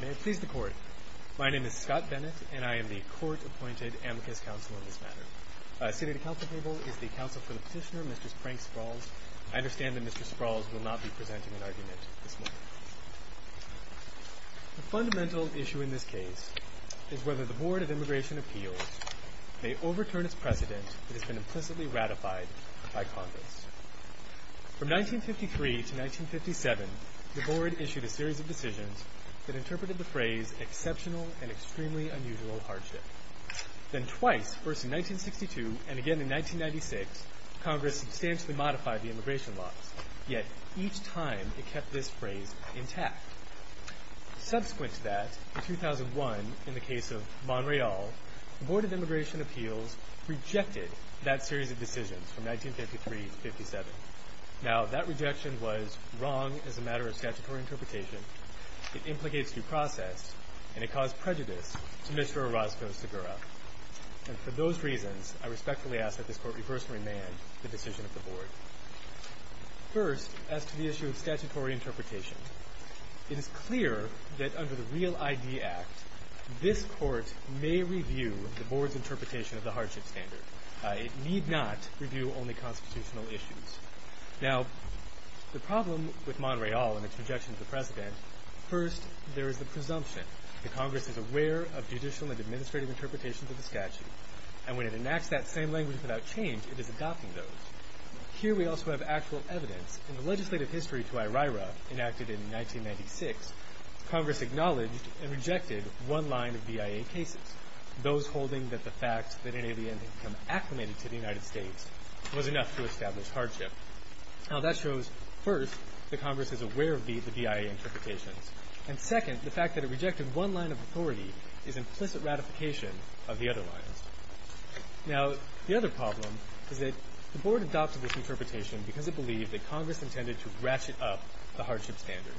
May it please the Court, my name is Scott Bennett, and I am the Court-Appointed Amicus Counsel in this matter. Seated at the Council Table is the Counsel for the Petitioner, Mr. Frank Sprawls. I understand that Mr. Sprawls will not be presenting an argument this morning. The fundamental issue in this case is whether the Board of Immigration Appeals may overturn its precedent that has been implicitly ratified by Congress. From 1953 to 1957, the Board issued a series of decisions that interpreted the phrase exceptional and extremely unusual hardship. Then twice, first in 1962 and again in 1996, Congress substantially modified the immigration laws, yet each time it kept this phrase intact. Subsequent to that, in 2001, in the case of Monreal, the Board of Immigration Appeals rejected that series of decisions from 1953 to 1957. Now, that rejection was wrong as a matter of statutory interpretation, it implicates due process, and it caused prejudice to Mr. Orozco Segura. And for those reasons, I respectfully ask that this Court reverse and remand the decision of the Board. First, as to the issue of statutory interpretation, it is clear that under the REAL ID Act, this Court may review the Board's interpretation of the hardship standard. It need not review only constitutional issues. Now, the problem with Monreal and its rejection of the precedent, first, there is the presumption that Congress is aware of judicial and administrative interpretations of the statute, and when it enacts that same language without change, it is adopting those. Here we also have actual evidence. In the legislative history to IRIRA enacted in 1996, Congress acknowledged and rejected one line of BIA cases, those holding that the fact that an alien had become acclimated to the United States was enough to establish hardship. Now, that shows, first, that Congress is aware of the BIA interpretations, and second, the fact that it rejected one line of authority is implicit ratification of the other lines. Now, the other problem is that the Board adopted this interpretation because it believed that Congress intended to ratchet up the hardship standard.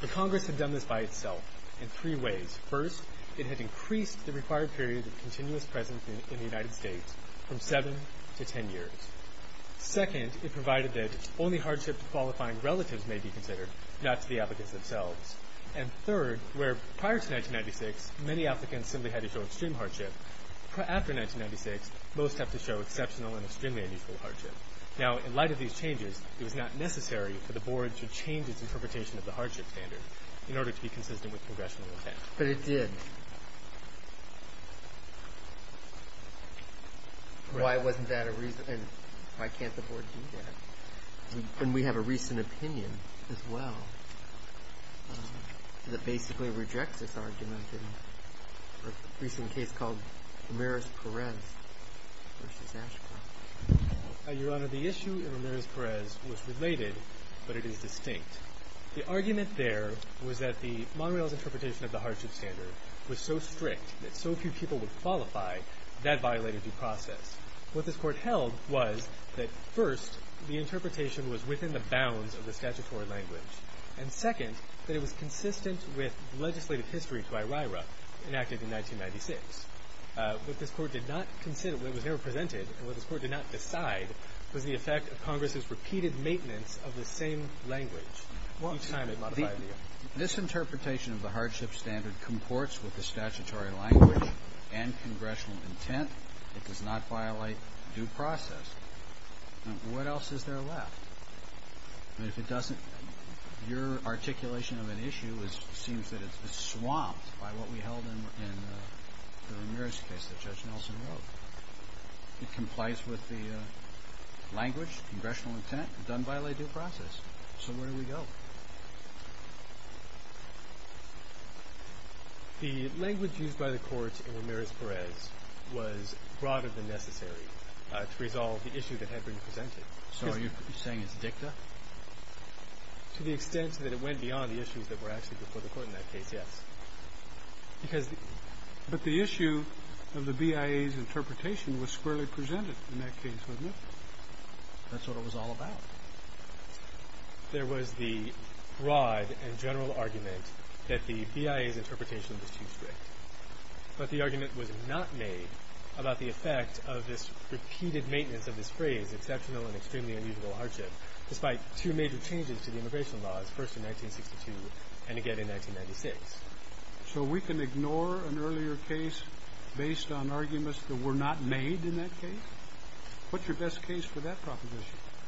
But Congress had done this by itself in three ways. First, it had increased the required period of continuous presence in the United States from seven to ten years. Second, it provided that only hardship to qualifying relatives may be considered, not to the applicants themselves. And third, where prior to 1996, many applicants simply had to show extreme hardship, after 1996, most have to show exceptional and extremely unusual hardship. Now, in light of these changes, it was not necessary for the Board to change its interpretation of the hardship standard in order to be consistent with congressional intent. But it did. Why wasn't that a reason? And why can't the Board do that? And we have a recent opinion as well that basically rejects this argument in a recent case called Ramirez-Perez v. Ashcroft. Your Honor, the issue in Ramirez-Perez was related, but it is distinct. The argument there was that the monorail's interpretation of the hardship standard was so strict that so few people would qualify, that violated due process. What this Court held was that, first, the interpretation was within the bounds of the statutory language, and, second, that it was consistent with legislative history to IRIRA, enacted in 1996. What this Court did not consider, what was never presented, and what this Court did not decide, was the effect of Congress's repeated maintenance of the same language each time it modified the argument. This interpretation of the hardship standard comports with the statutory language and congressional intent. It does not violate due process. What else is there left? And if it doesn't, your articulation of an issue seems that it's swamped by what we held in the Ramirez case that Judge Nelson wrote. It complies with the language, congressional intent. It doesn't violate due process. So where do we go? The language used by the Court in Ramirez-Perez was broader than necessary to resolve the issue that had been presented. So are you saying it's dicta? To the extent that it went beyond the issues that were actually before the Court in that case, yes. But the issue of the BIA's interpretation was squarely presented in that case, wasn't it? That's what it was all about. There was the broad and general argument that the BIA's interpretation was too strict. But the argument was not made about the effect of this repeated maintenance of this phrase, exceptional and extremely unusual hardship, despite two major changes to the immigration laws, first in 1962 and again in 1996. So we can ignore an earlier case based on arguments that were not made in that case? What's your best case for that proposition? Okay.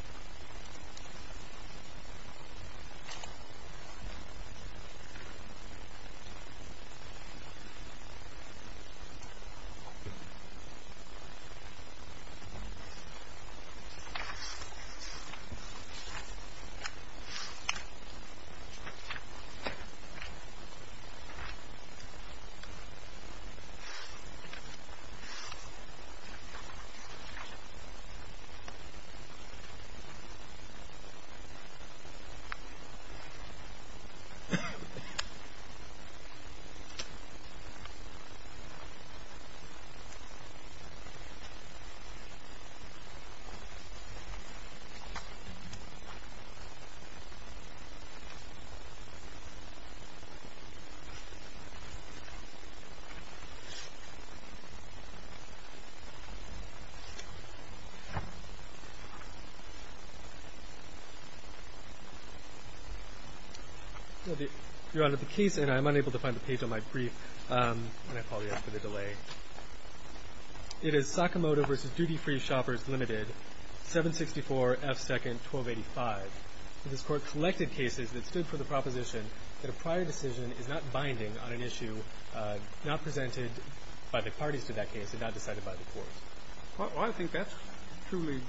Thank you. May I call you up for the delay? It is Sakamoto v. Duty Free Shoppers, Ltd., 764 F. 2nd, 1285. This Court collected cases that stood for the proposition that a prior decision is not binding on an issue not presented by the parties to that case and not decided by the courts. Well, I think that's truly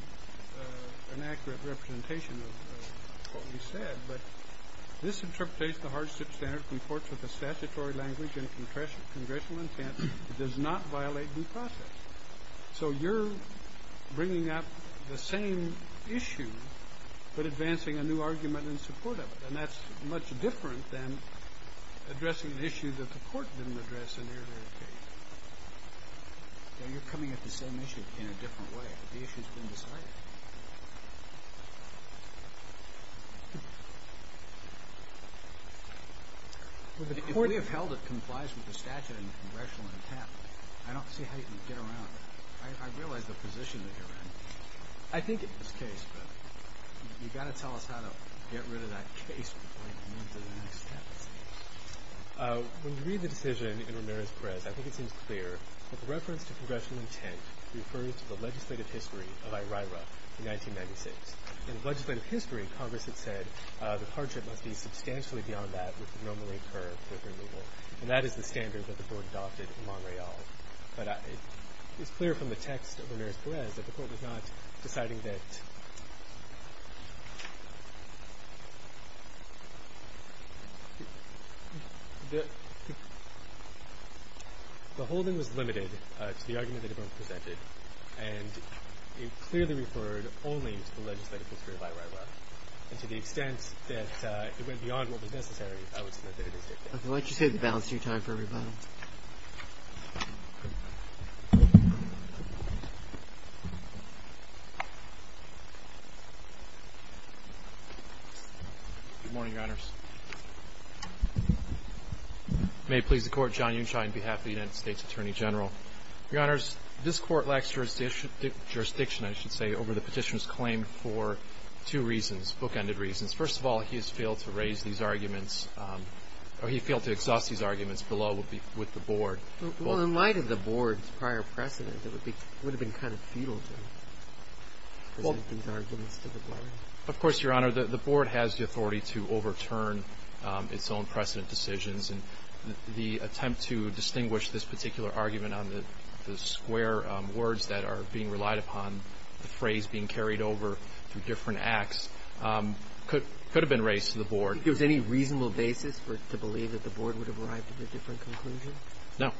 an accurate representation of what we said. But this interprets the hardship standard reports with a statutory language and congressional intent. It does not violate due process. So you're bringing up the same issue but advancing a new argument in support of it, and that's much different than addressing an issue that the Court didn't address in the earlier case. You're coming at the same issue in a different way. The issue's been decided. If we have held it complies with the statute and the congressional intent, I don't see how you can get around that. I realize the position that you're in. I think it's the case, but you've got to tell us how to get rid of that case before you move to the next case. When you read the decision in Ramirez-Perez, I think it seems clear that the reference to congressional intent refers to the legislative history of IRIRA in 1996. In the legislative history, Congress had said that hardship must be substantially beyond that which would normally occur with removal, and that is the standard that the Court adopted in Montréal. But it's clear from the text of Ramirez-Perez that the Court was not deciding that The whole thing was limited to the argument that everyone presented, and it clearly referred only to the legislative history of IRIRA, and to the extent that it went beyond what was necessary, I would submit that it is the case. Okay, why don't you save the balance of your time for rebuttal. Good morning, Your Honors. May it please the Court, John Unshine on behalf of the United States Attorney General. Your Honors, this Court lacks jurisdiction, I should say, over the petitioner's claim for two reasons, bookended reasons. First of all, he has failed to raise these arguments. Or he failed to exhaust these arguments below with the Board. Well, in light of the Board's prior precedent, it would have been kind of futile to present these arguments to the Board. Of course, Your Honor, the Board has the authority to overturn its own precedent decisions, and the attempt to distinguish this particular argument on the square words that are being relied upon, the phrase being carried over through different acts, could have been raised to the Board. Do you think there was any reasonable basis for it to believe that the Board would have arrived at a different conclusion? No.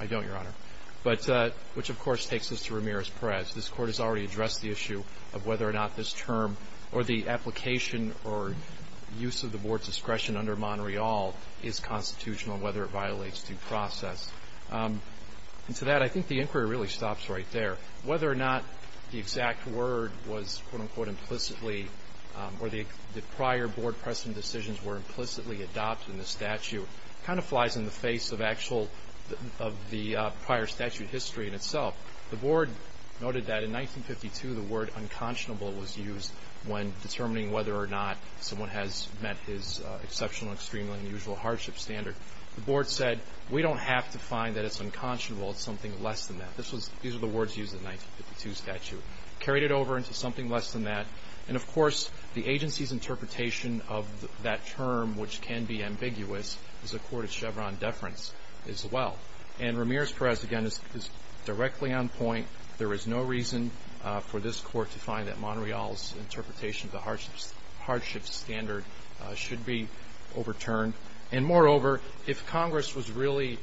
I don't, Your Honor. But which, of course, takes us to Ramirez-Perez. This Court has already addressed the issue of whether or not this term or the application or use of the Board's discretion under Montreal is constitutional, whether it violates due process. And to that, I think the inquiry really stops right there. Whether or not the exact word was, quote-unquote, implicitly, or the prior Board precedent decisions were implicitly adopted in the statute, kind of flies in the face of actual, of the prior statute history in itself. The Board noted that in 1952 the word unconscionable was used when determining whether or not someone has met his exceptional, extremely unusual hardship standard. The Board said, we don't have to find that it's unconscionable. It's something less than that. These are the words used in the 1952 statute. Carried it over into something less than that. And, of course, the agency's interpretation of that term, which can be ambiguous, is a court of Chevron deference as well. And Ramirez-Perez, again, is directly on point. There is no reason for this Court to find that Montreal's interpretation of the hardship standard should be overturned. And, moreover, if Congress was really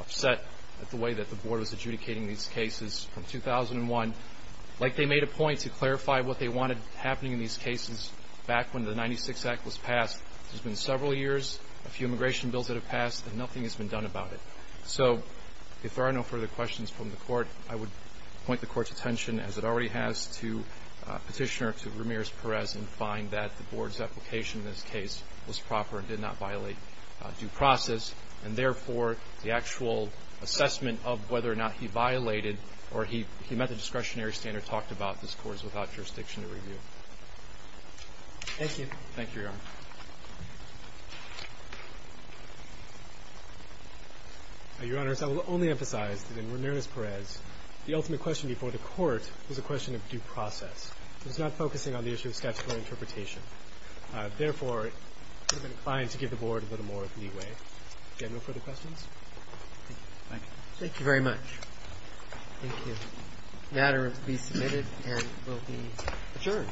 upset at the way that the Board was adjudicating these cases from 2001, like they made a point to clarify what they wanted happening in these cases back when the 96 Act was passed. There's been several years, a few immigration bills that have passed, and nothing has been done about it. So if there are no further questions from the Court, I would point the Court's attention, as it already has, to Petitioner, to Ramirez-Perez, and find that the Board's application in this case was proper and did not violate due process. And, therefore, the actual assessment of whether or not he violated or he met the discretionary standard talked about this Court's without jurisdiction to review. Thank you. Thank you, Your Honor. Your Honors, I will only emphasize that in Ramirez-Perez, the ultimate question before the Court was a question of due process. It was not focusing on the issue of statutory interpretation. Therefore, it would have been inclined to give the Board a little more leeway. Do you have no further questions? Thank you. Thank you. Thank you very much. Thank you. The matter will be submitted and will be adjourned.